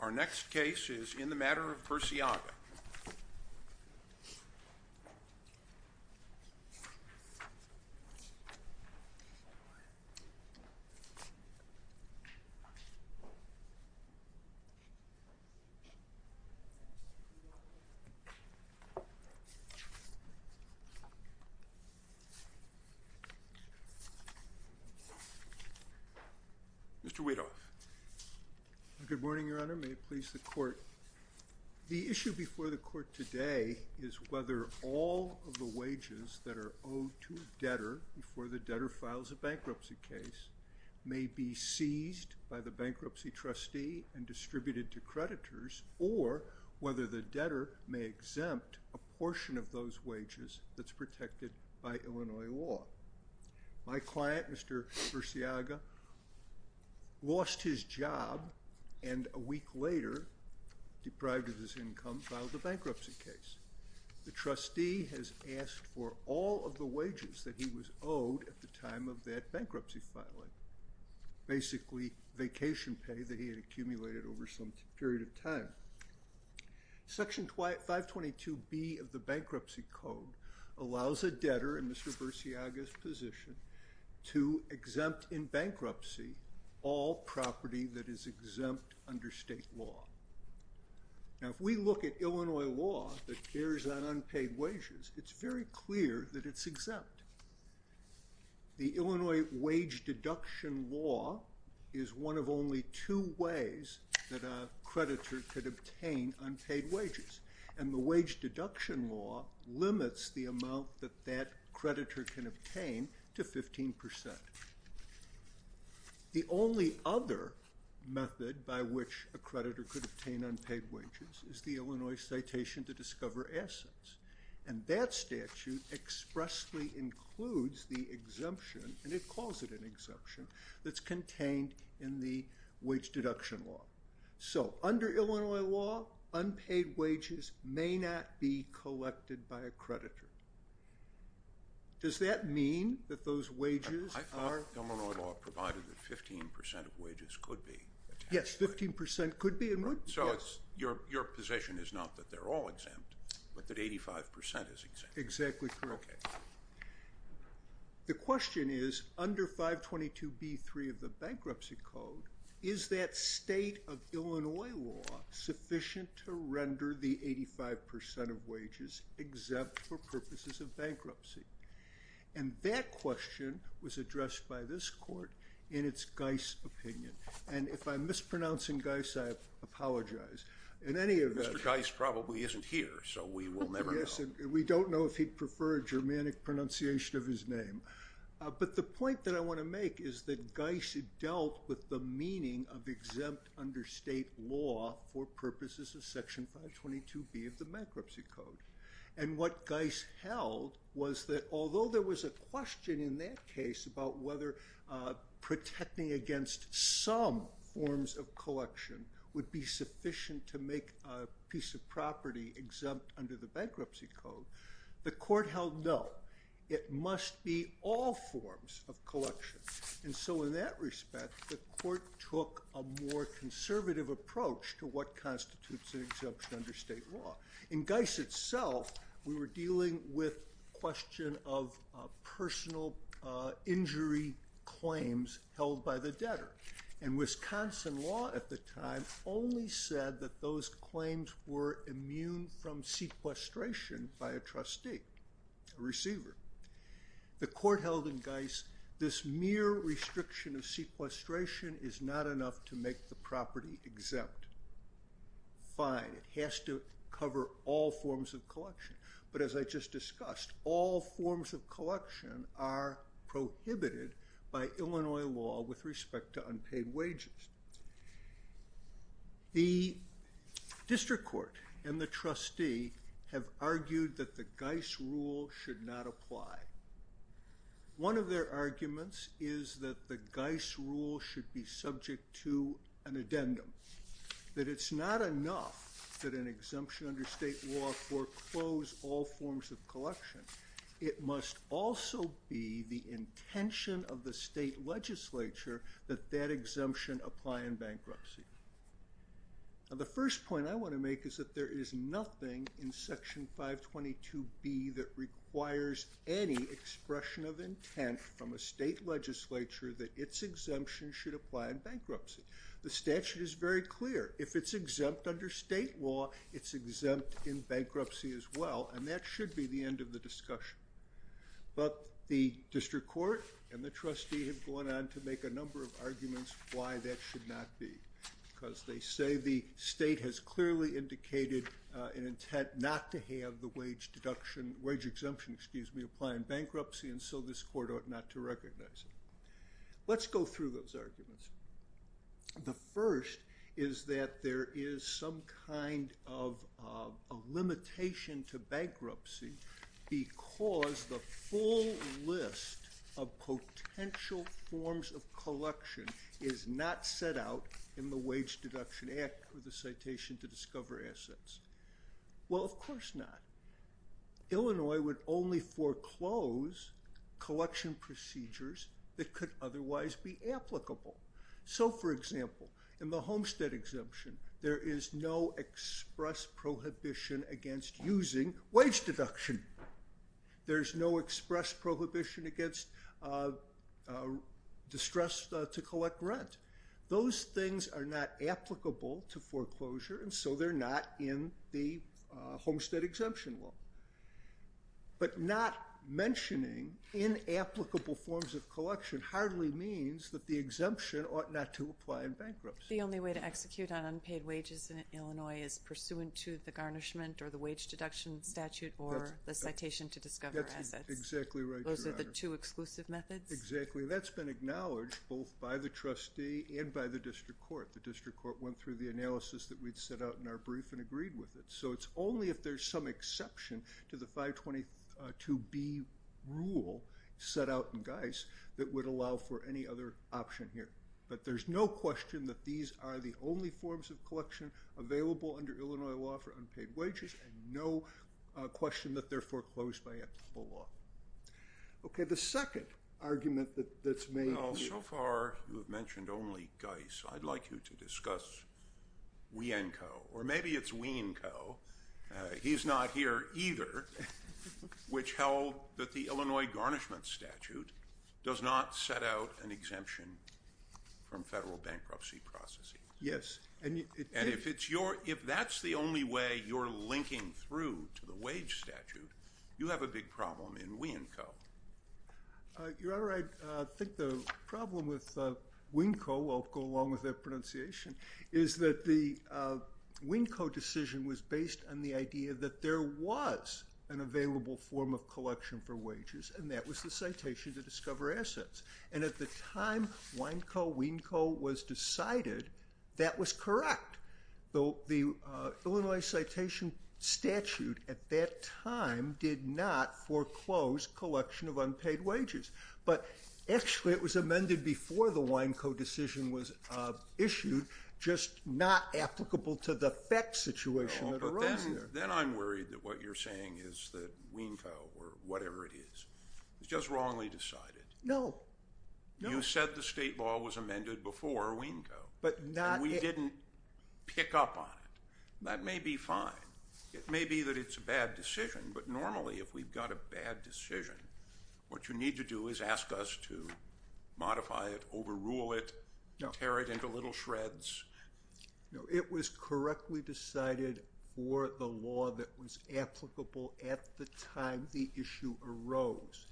Our next case is in the matter of Burciaga. Mr. Weedoff. The issue before the court today is whether all of the wages that are owed to a debtor before the debtor files a bankruptcy case may be seized by the bankruptcy trustee and distributed to creditors or whether the debtor may exempt a portion of those wages that's protected by Illinois law. My client, Mr. Burciaga, lost his job and a week later, deprived of his income, filed a bankruptcy case. The trustee has asked for all of the wages that he was owed at the time of that bankruptcy filing, basically vacation pay that he had accumulated over some period of time. Section 522B of the Bankruptcy Code allows a debtor in Mr. Burciaga's position to exempt in bankruptcy all property that is exempt under state law. Now, if we look at Illinois law that cares on unpaid wages, it's very clear that it's exempt. The Illinois wage deduction law is one of only two ways that a creditor could obtain unpaid wages. And the wage deduction law limits the amount that that creditor can obtain to 15%. The only other method by which a creditor could obtain unpaid wages is the Illinois citation to discover assets. And that statute expressly includes the exemption, and it calls it an exemption, that's contained in the wage deduction law. So, under Illinois law, unpaid wages may not be collected by a creditor. Does that mean that those wages are— I thought Illinois law provided that 15% of wages could be— So, your position is not that they're all exempt, but that 85% is exempt. Exactly correct. The question is, under 522B3 of the Bankruptcy Code, is that state of Illinois law sufficient to render the 85% of wages exempt for purposes of bankruptcy? And that question was addressed by this court in its Geis opinion. And if I'm mispronouncing Geis, I apologize. In any event— Mr. Geis probably isn't here, so we will never know. Yes, and we don't know if he'd prefer a Germanic pronunciation of his name. But the point that I want to make is that Geis dealt with the meaning of exempt under state law for purposes of Section 522B of the Bankruptcy Code. And what Geis held was that although there was a question in that case about whether protecting against some forms of collection would be sufficient to make a piece of property exempt under the Bankruptcy Code, the court held no. It must be all forms of collection. And so, in that respect, the court took a more conservative approach to what constitutes an exemption under state law. In Geis itself, we were dealing with a question of personal injury claims held by the debtor. And Wisconsin law at the time only said that those claims were immune from sequestration by a trustee, a receiver. The court held in Geis this mere restriction of sequestration is not enough to make the property exempt. Fine. It has to cover all forms of collection. But as I just discussed, all forms of collection are prohibited by Illinois law with respect to unpaid wages. The district court and the trustee have argued that the Geis rule should not apply. One of their arguments is that the Geis rule should be subject to an addendum. That it's not enough that an exemption under state law foreclose all forms of collection. It must also be the intention of the state legislature that that exemption apply in bankruptcy. The first point I want to make is that there is nothing in section 522B that requires any expression of intent from a state legislature that its exemption should apply in bankruptcy. The statute is very clear. If it's exempt under state law, it's exempt in bankruptcy as well. And that should be the end of the discussion. But the district court and the trustee have gone on to make a number of arguments why that should not be because they say the state has clearly indicated an intent not to have the wage deduction, wage exemption, excuse me, apply in bankruptcy and so this court ought not to recognize it. Let's go through those arguments. The first is that there is some kind of a limitation to bankruptcy because the full list of potential forms of collection is not set out in the Wage Deduction Act or the Citation to Discover Assets. Well, of course not. Illinois would only foreclose collection procedures that could otherwise be applicable. So, for example, in the Homestead Exemption, there is no express prohibition against using wage deduction. There's no express prohibition against distress to collect rent. Those things are not applicable to foreclosure and so they're not in the Homestead Exemption law. But not mentioning inapplicable forms of collection hardly means that the exemption ought not to apply in bankruptcy. The only way to execute on unpaid wages in Illinois is pursuant to the garnishment or the Citation to Discover Assets. That's exactly right, Your Honor. Those are the two exclusive methods? Exactly. That's been acknowledged both by the trustee and by the district court. The district court went through the analysis that we'd set out in our brief and agreed with it. So it's only if there's some exception to the 522B rule set out in Geis that would allow for any other option here. But there's no question that these are the only forms of collection available under Illinois law for unpaid wages and no question that they're foreclosed by applicable law. Okay, the second argument that's made here... Well, so far you've mentioned only Geis. I'd like you to discuss Wienco. Or maybe it's Wienco. He's not here either, which held that the Illinois Garnishment Statute does not set out an exemption from federal bankruptcy processing. Yes. And if that's the only way you're linking through to the wage statute, you have a big problem in Wienco. Your Honor, I think the problem with Wienco, I'll go along with that pronunciation, is that the Wienco decision was based on the idea that there was an available form of collection for wages, and that was the Citation to Discover Assets. And at the time Wienco was decided, that was correct. The Illinois Citation Statute at that time did not foreclose collection of unpaid wages. But actually, it was amended before the Wienco decision was issued, just not applicable to the FECS situation. Then I'm worried that what you're saying is that Wienco, or whatever it is, was just wrongly decided. No. You said the state law was amended before Wienco, and we didn't pick up on it. That may be fine. It may be that it's a bad decision, but normally if we've got a bad decision, what you need to do is ask us to modify it, overrule it, tear it into little shreds. No, it was correctly decided for the law that was applicable at the time the issue arose.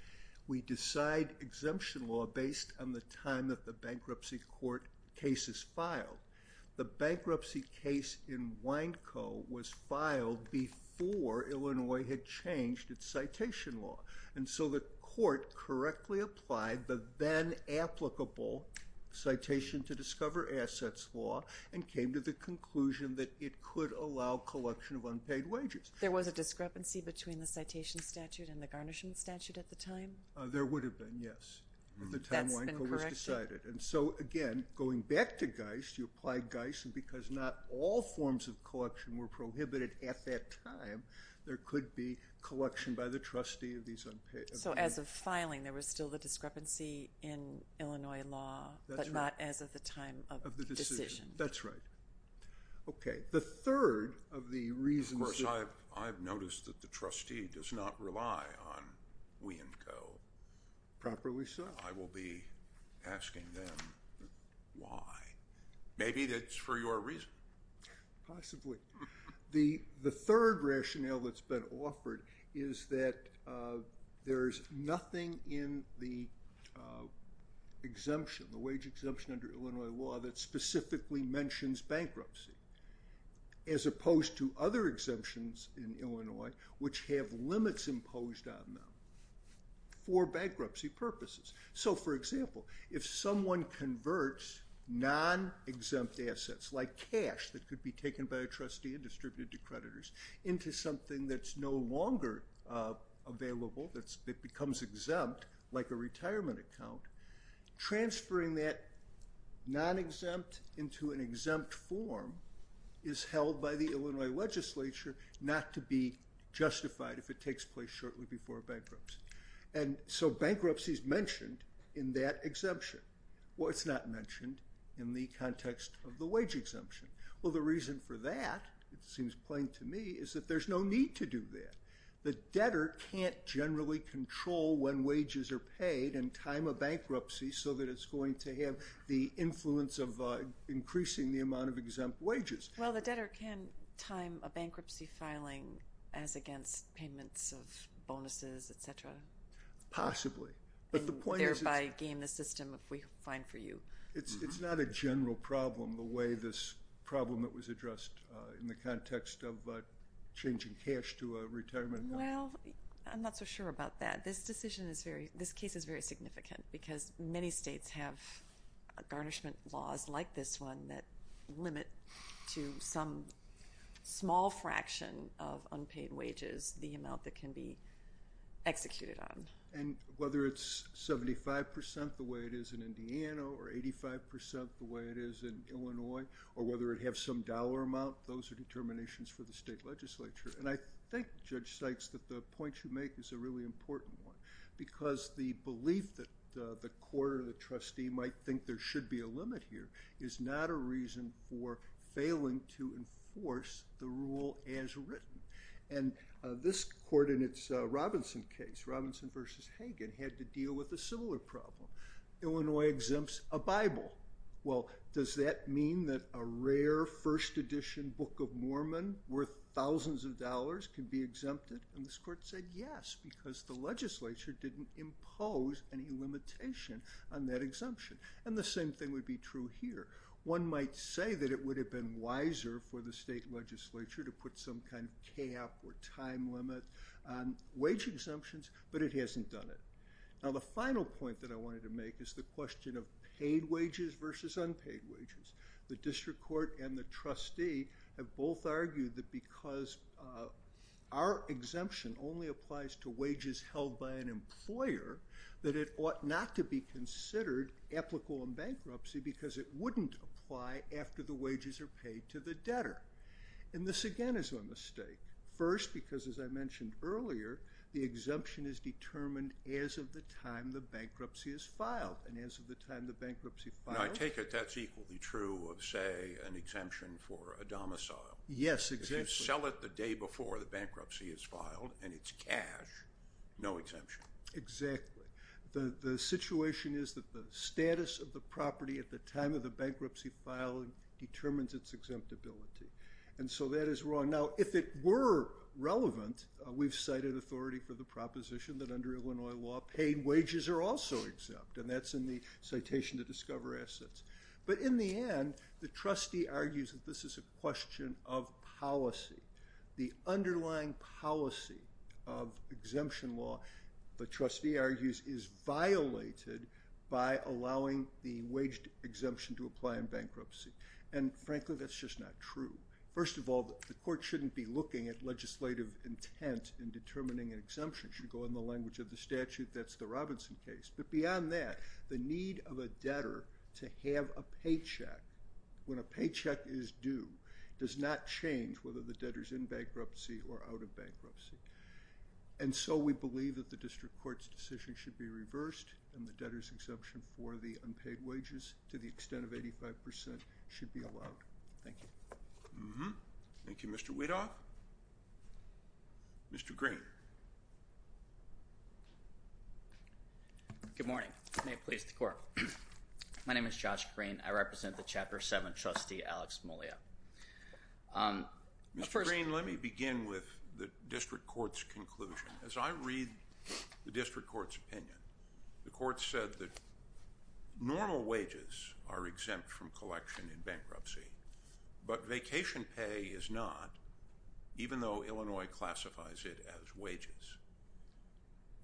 We decide exemption law based on the time that the bankruptcy court case is filed. The bankruptcy case in Wienco was filed before Illinois had changed its citation law. And so the court correctly applied the then applicable Citation to Discover Assets law and came to the conclusion that it could allow collection of unpaid wages. There was a discrepancy between the citation statute and the garnishment statute at the time? There would have been, yes, at the time Wienco was decided. That's been corrected. And so, again, going back to Geist, you apply Geist, and because not all forms of collection were prohibited at that time, there could be collection by the trustee of these unpaid unemployed. So as of filing, there was still the discrepancy in Illinois law, but not as of the time of the decision. That's right. Okay, the third of the reasons. Of course, I've noticed that the trustee does not rely on Wienco. Properly so. I will be asking them why. Maybe it's for your reason. Possibly. The third rationale that's been offered is that there is nothing in the exemption, the wage exemption under Illinois law that specifically mentions bankruptcy, as opposed to other exemptions in Illinois, which have limits imposed on them for bankruptcy purposes. So, for example, if someone converts non-exempt assets, like cash that could be taken by a trustee and distributed to creditors, into something that's no longer available, that becomes exempt, like a retirement account, transferring that non-exempt into an exempt form is held by the Illinois legislature not to be justified if it takes place shortly before bankruptcy. And so bankruptcy is mentioned in that exemption. Well, it's not mentioned in the context of the wage exemption. Well, the reason for that, it seems plain to me, is that there's no need to do that. The debtor can't generally control when wages are paid and time a bankruptcy so that it's going to have the influence of increasing the amount of exempt wages. Well, the debtor can time a bankruptcy filing as against payments of bonuses, et cetera. Possibly. And thereby gain the system if we find for you. It's not a general problem the way this problem that was addressed in the context of changing cash to a retirement account. Well, I'm not so sure about that. This case is very significant because many states have garnishment laws like this one that limit to some small fraction of unpaid wages the amount that can be executed on. And whether it's 75% the way it is in Indiana or 85% the way it is in Illinois or whether it has some dollar amount, those are determinations for the state legislature. And I think, Judge Sykes, that the point you make is a really important one because the belief that the court or the trustee might think there should be a limit here is not a reason for failing to enforce the rule as written. And this court in its Robinson case, Robinson v. Hagen, had to deal with a similar problem. Illinois exempts a Bible. Well, does that mean that a rare first edition Book of Mormon worth thousands of dollars can be exempted? And this court said yes because the legislature didn't impose any limitation on that exemption. And the same thing would be true here. One might say that it would have been wiser for the state legislature to put some kind of cap or time limit on wage exemptions, but it hasn't done it. Now, the final point that I wanted to make is the question of paid wages versus unpaid wages. The district court and the trustee have both argued that because our exemption only applies to wages held by an employer, that it ought not to be considered applicable in bankruptcy because it wouldn't apply after the wages are paid to the debtor. And this, again, is a mistake. First, because as I mentioned earlier, the exemption is determined as of the time the bankruptcy is filed. And as of the time the bankruptcy filed- I take it that's equally true of, say, an exemption for a domicile. Yes, exactly. If you sell it the day before the bankruptcy is filed and it's cash, no exemption. Exactly. The situation is that the status of the property at the time of the bankruptcy filing determines its exemptibility. And so that is wrong. Now, if it were relevant, we've cited authority for the proposition that under Illinois law, paid wages are also exempt, and that's in the citation to discover assets. But in the end, the trustee argues that this is a question of policy. The underlying policy of exemption law, the trustee argues, is violated by allowing the wage exemption to apply in bankruptcy. And frankly, that's just not true. First of all, the court shouldn't be looking at legislative intent in determining an exemption. It should go in the language of the statute that's the Robinson case. But beyond that, the need of a debtor to have a paycheck when a paycheck is due does not change whether the debtor is in bankruptcy or out of bankruptcy. And so we believe that the district court's decision should be reversed and the debtor's exemption for the unpaid wages to the extent of 85% should be allowed. Thank you. Thank you, Mr. Weedoff. Mr. Green. Good morning. May it please the Court. My name is Josh Green. I represent the Chapter 7 trustee, Alex Mollio. Mr. Green, let me begin with the district court's conclusion. As I read the district court's opinion, the court said that normal wages are exempt from collection in bankruptcy, but vacation pay is not, even though Illinois classifies it as wages.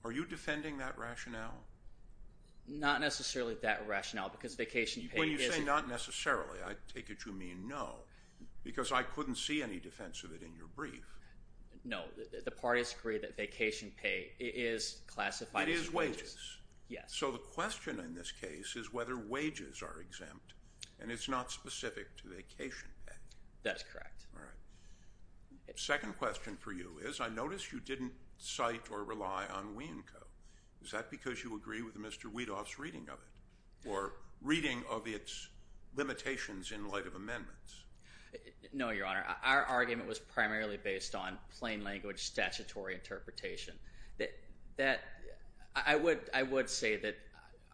Are you defending that rationale? Not necessarily that rationale because vacation pay isn't. When you say not necessarily, I take it you mean no, because I couldn't see any defense of it in your brief. No, the parties agree that vacation pay is classified as wages. Yes. So the question in this case is whether wages are exempt, and it's not specific to vacation pay. That is correct. All right. The second question for you is I noticed you didn't cite or rely on Wienco. Is that because you agree with Mr. Weedoff's reading of it or reading of its limitations in light of amendments? No, Your Honor. Our argument was primarily based on plain language statutory interpretation. I would say that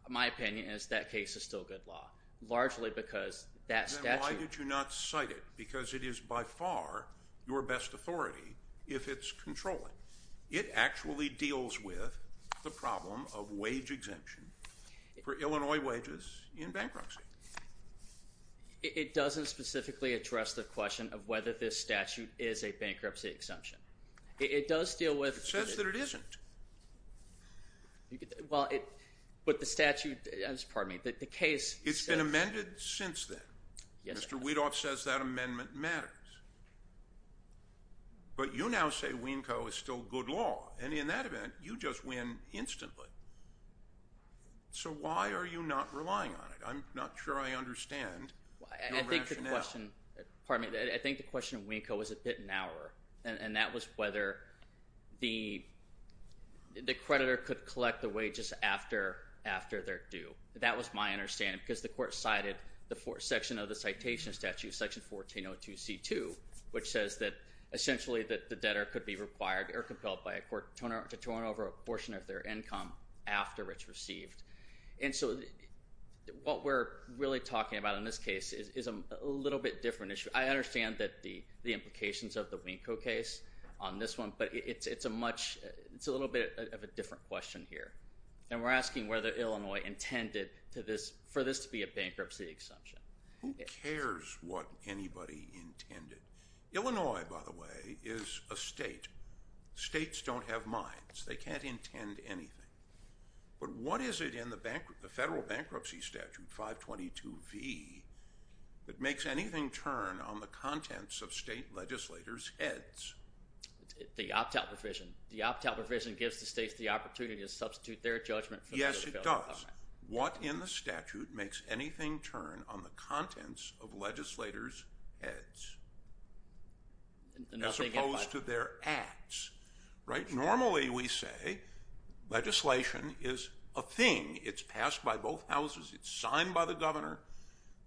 my opinion is that case is still good law, largely because that statute. Then why did you not cite it? Because it is by far your best authority if it's controlling. It actually deals with the problem of wage exemption for Illinois wages in bankruptcy. It doesn't specifically address the question of whether this statute is a bankruptcy exemption. It does deal with. It says that it isn't. Well, but the statute, pardon me, the case. It's been amended since then. Mr. Weedoff says that amendment matters. But you now say Wienco is still good law, and in that event, you just win instantly. So why are you not relying on it? I'm not sure I understand your rationale. Pardon me. I think the question of Wienco was a bit narrower, and that was whether the creditor could collect the wages after they're due. That was my understanding because the court cited the section of the citation statute, Section 1402C2, which says that essentially the debtor could be required or compelled by a court to turn over a portion of their income after it's received. And so what we're really talking about in this case is a little bit different issue. I understand the implications of the Wienco case on this one, but it's a little bit of a different question here. And we're asking whether Illinois intended for this to be a bankruptcy exemption. Who cares what anybody intended? Illinois, by the way, is a state. States don't have minds. They can't intend anything. But what is it in the federal bankruptcy statute, 522V, that makes anything turn on the contents of state legislators' heads? The opt-out provision. The opt-out provision gives the states the opportunity to substitute their judgment for the federal government. Yes, it does. What in the statute makes anything turn on the contents of legislators' heads as opposed to their acts? Normally we say legislation is a thing. It's passed by both houses. It's signed by the governor.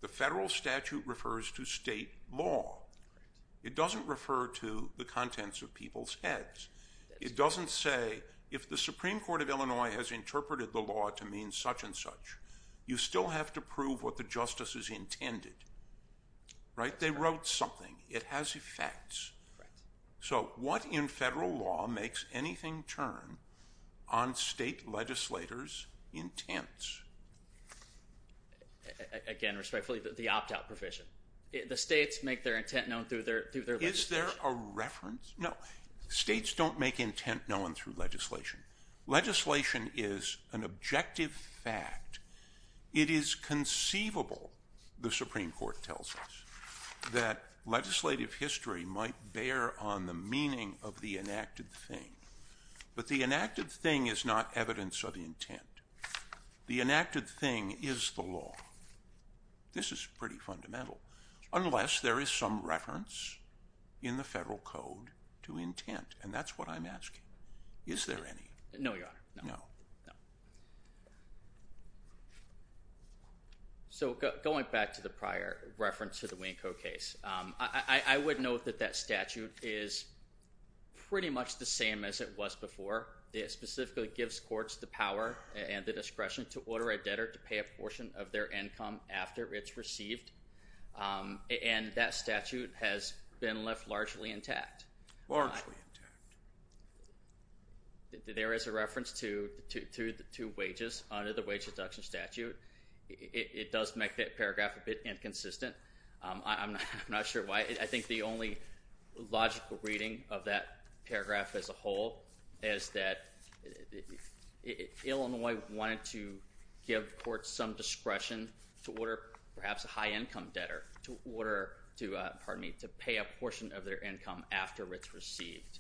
The federal statute refers to state law. It doesn't refer to the contents of people's heads. It doesn't say if the Supreme Court of Illinois has interpreted the law to mean such and such, you still have to prove what the justice has intended. They wrote something. It has effects. So what in federal law makes anything turn on state legislators' intents? Again, respectfully, the opt-out provision. The states make their intent known through their legislation. Is there a reference? No. States don't make intent known through legislation. Legislation is an objective fact. It is conceivable, the Supreme Court tells us, that legislative history might bear on the meaning of the enacted thing. But the enacted thing is not evidence of intent. The enacted thing is the law. This is pretty fundamental. Unless there is some reference in the federal code to intent, and that's what I'm asking. Is there any? No, Your Honor. No. No. No. So going back to the prior reference to the Wienco case, I would note that that statute is pretty much the same as it was before. It specifically gives courts the power and the discretion to order a debtor to pay a portion of their income after it's received, and that statute has been left largely intact. Largely intact. There is a reference to wages under the wage deduction statute. It does make that paragraph a bit inconsistent. I'm not sure why. I think the only logical reading of that paragraph as a whole is that Illinois wanted to give courts some discretion to order perhaps a high-income debtor to pay a portion of their income after it's received.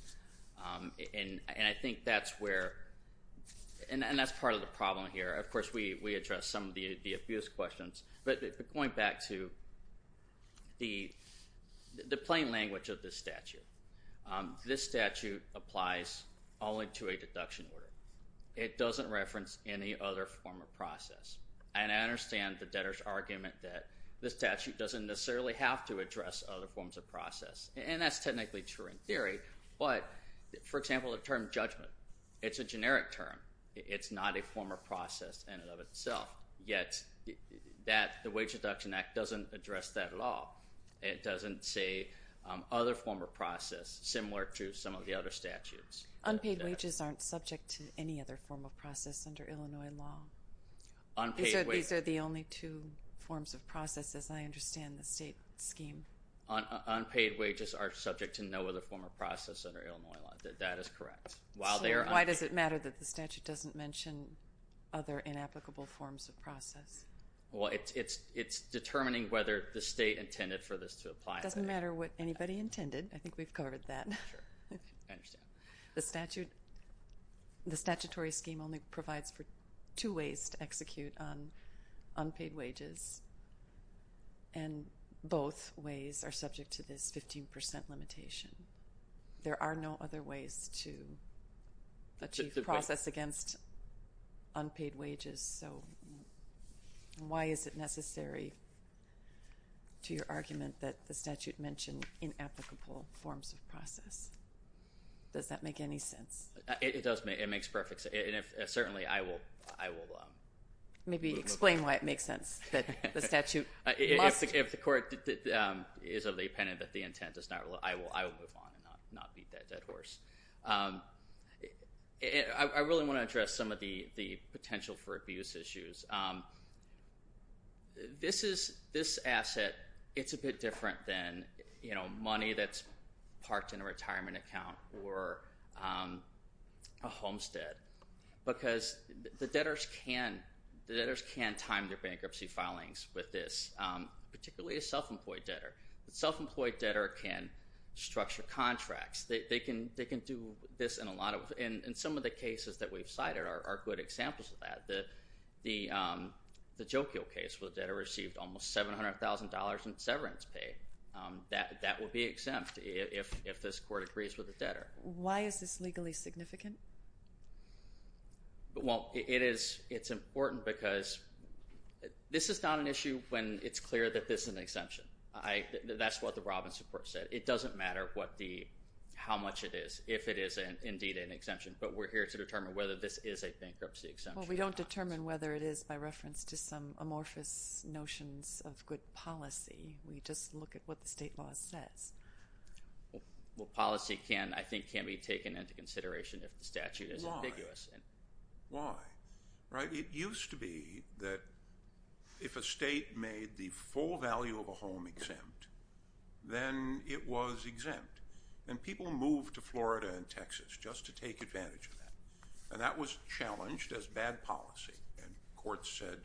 And I think that's where – and that's part of the problem here. Of course, we address some of the abuse questions. But going back to the plain language of this statute, this statute applies only to a deduction order. It doesn't reference any other form of process. And I understand the debtor's argument that this statute doesn't necessarily have to address other forms of process. And that's technically true in theory. But, for example, the term judgment, it's a generic term. It's not a form of process in and of itself. Yet the Wage Deduction Act doesn't address that at all. It doesn't say other form of process similar to some of the other statutes. Unpaid wages aren't subject to any other form of process under Illinois law? These are the only two forms of process, as I understand the state scheme. Unpaid wages are subject to no other form of process under Illinois law. That is correct. Sure. Why does it matter that the statute doesn't mention other inapplicable forms of process? Well, it's determining whether the state intended for this to apply. It doesn't matter what anybody intended. I think we've covered that. Sure. I understand. The statutory scheme only provides for two ways to execute on unpaid wages, and both ways are subject to this 15% limitation. There are no other ways to achieve process against unpaid wages. So why is it necessary to your argument that the statute mentioned inapplicable forms of process? Does that make any sense? It does. It makes perfect sense. Certainly, I will move on. Maybe explain why it makes sense that the statute must. If the court is of the opinion that the intent is not, I will move on and not beat that dead horse. I really want to address some of the potential for abuse issues. This asset, it's a bit different than money that's parked in a retirement account or a homestead, because the debtors can time their bankruptcy filings with this, particularly a self-employed debtor. A self-employed debtor can structure contracts. They can do this in a lot of them, and some of the cases that we've cited are good examples of that. The Jokio case where the debtor received almost $700,000 in severance pay. That would be exempt if this court agrees with the debtor. Why is this legally significant? Well, it's important because this is not an issue when it's clear that this is an exemption. That's what the Robbins report said. It doesn't matter how much it is, if it is indeed an exemption, but we're here to determine whether this is a bankruptcy exemption. Well, we don't determine whether it is by reference to some amorphous notions of good policy. We just look at what the state law says. Well, policy can, I think, can be taken into consideration if the statute is ambiguous. Why? Why? Right? It used to be that if a state made the full value of a home exempt, then it was exempt, and people moved to Florida and Texas just to take advantage of that. And that was challenged as bad policy, and courts said,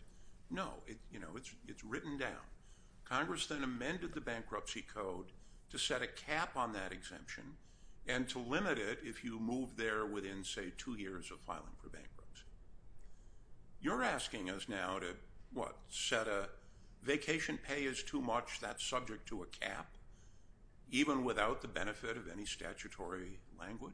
no, it's written down. Congress then amended the bankruptcy code to set a cap on that exemption and to limit it if you move there within, say, two years of filing for bankruptcy. You're asking us now to, what, set a vacation pay is too much, that's subject to a cap, even without the benefit of any statutory language?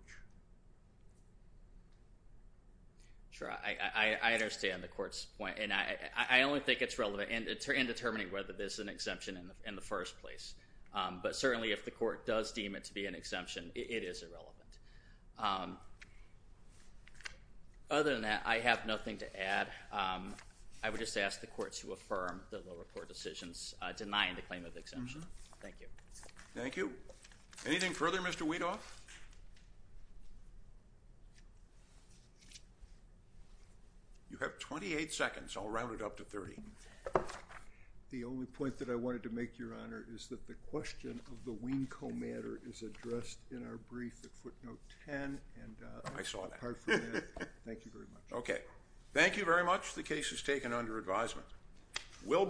Sure. I understand the court's point, and I only think it's relevant in determining whether this is an exemption in the first place. But certainly if the court does deem it to be an exemption, it is irrelevant. I would just ask the court to affirm the lower court decisions denying the claim of exemption. Thank you. Thank you. Anything further, Mr. Weedoff? You have 28 seconds. I'll round it up to 30. The only point that I wanted to make, Your Honor, is that the question of the Wienco matter is addressed in our brief at footnote 10. I saw that. Thank you very much. Okay. Thank you very much. The case is taken under advisement.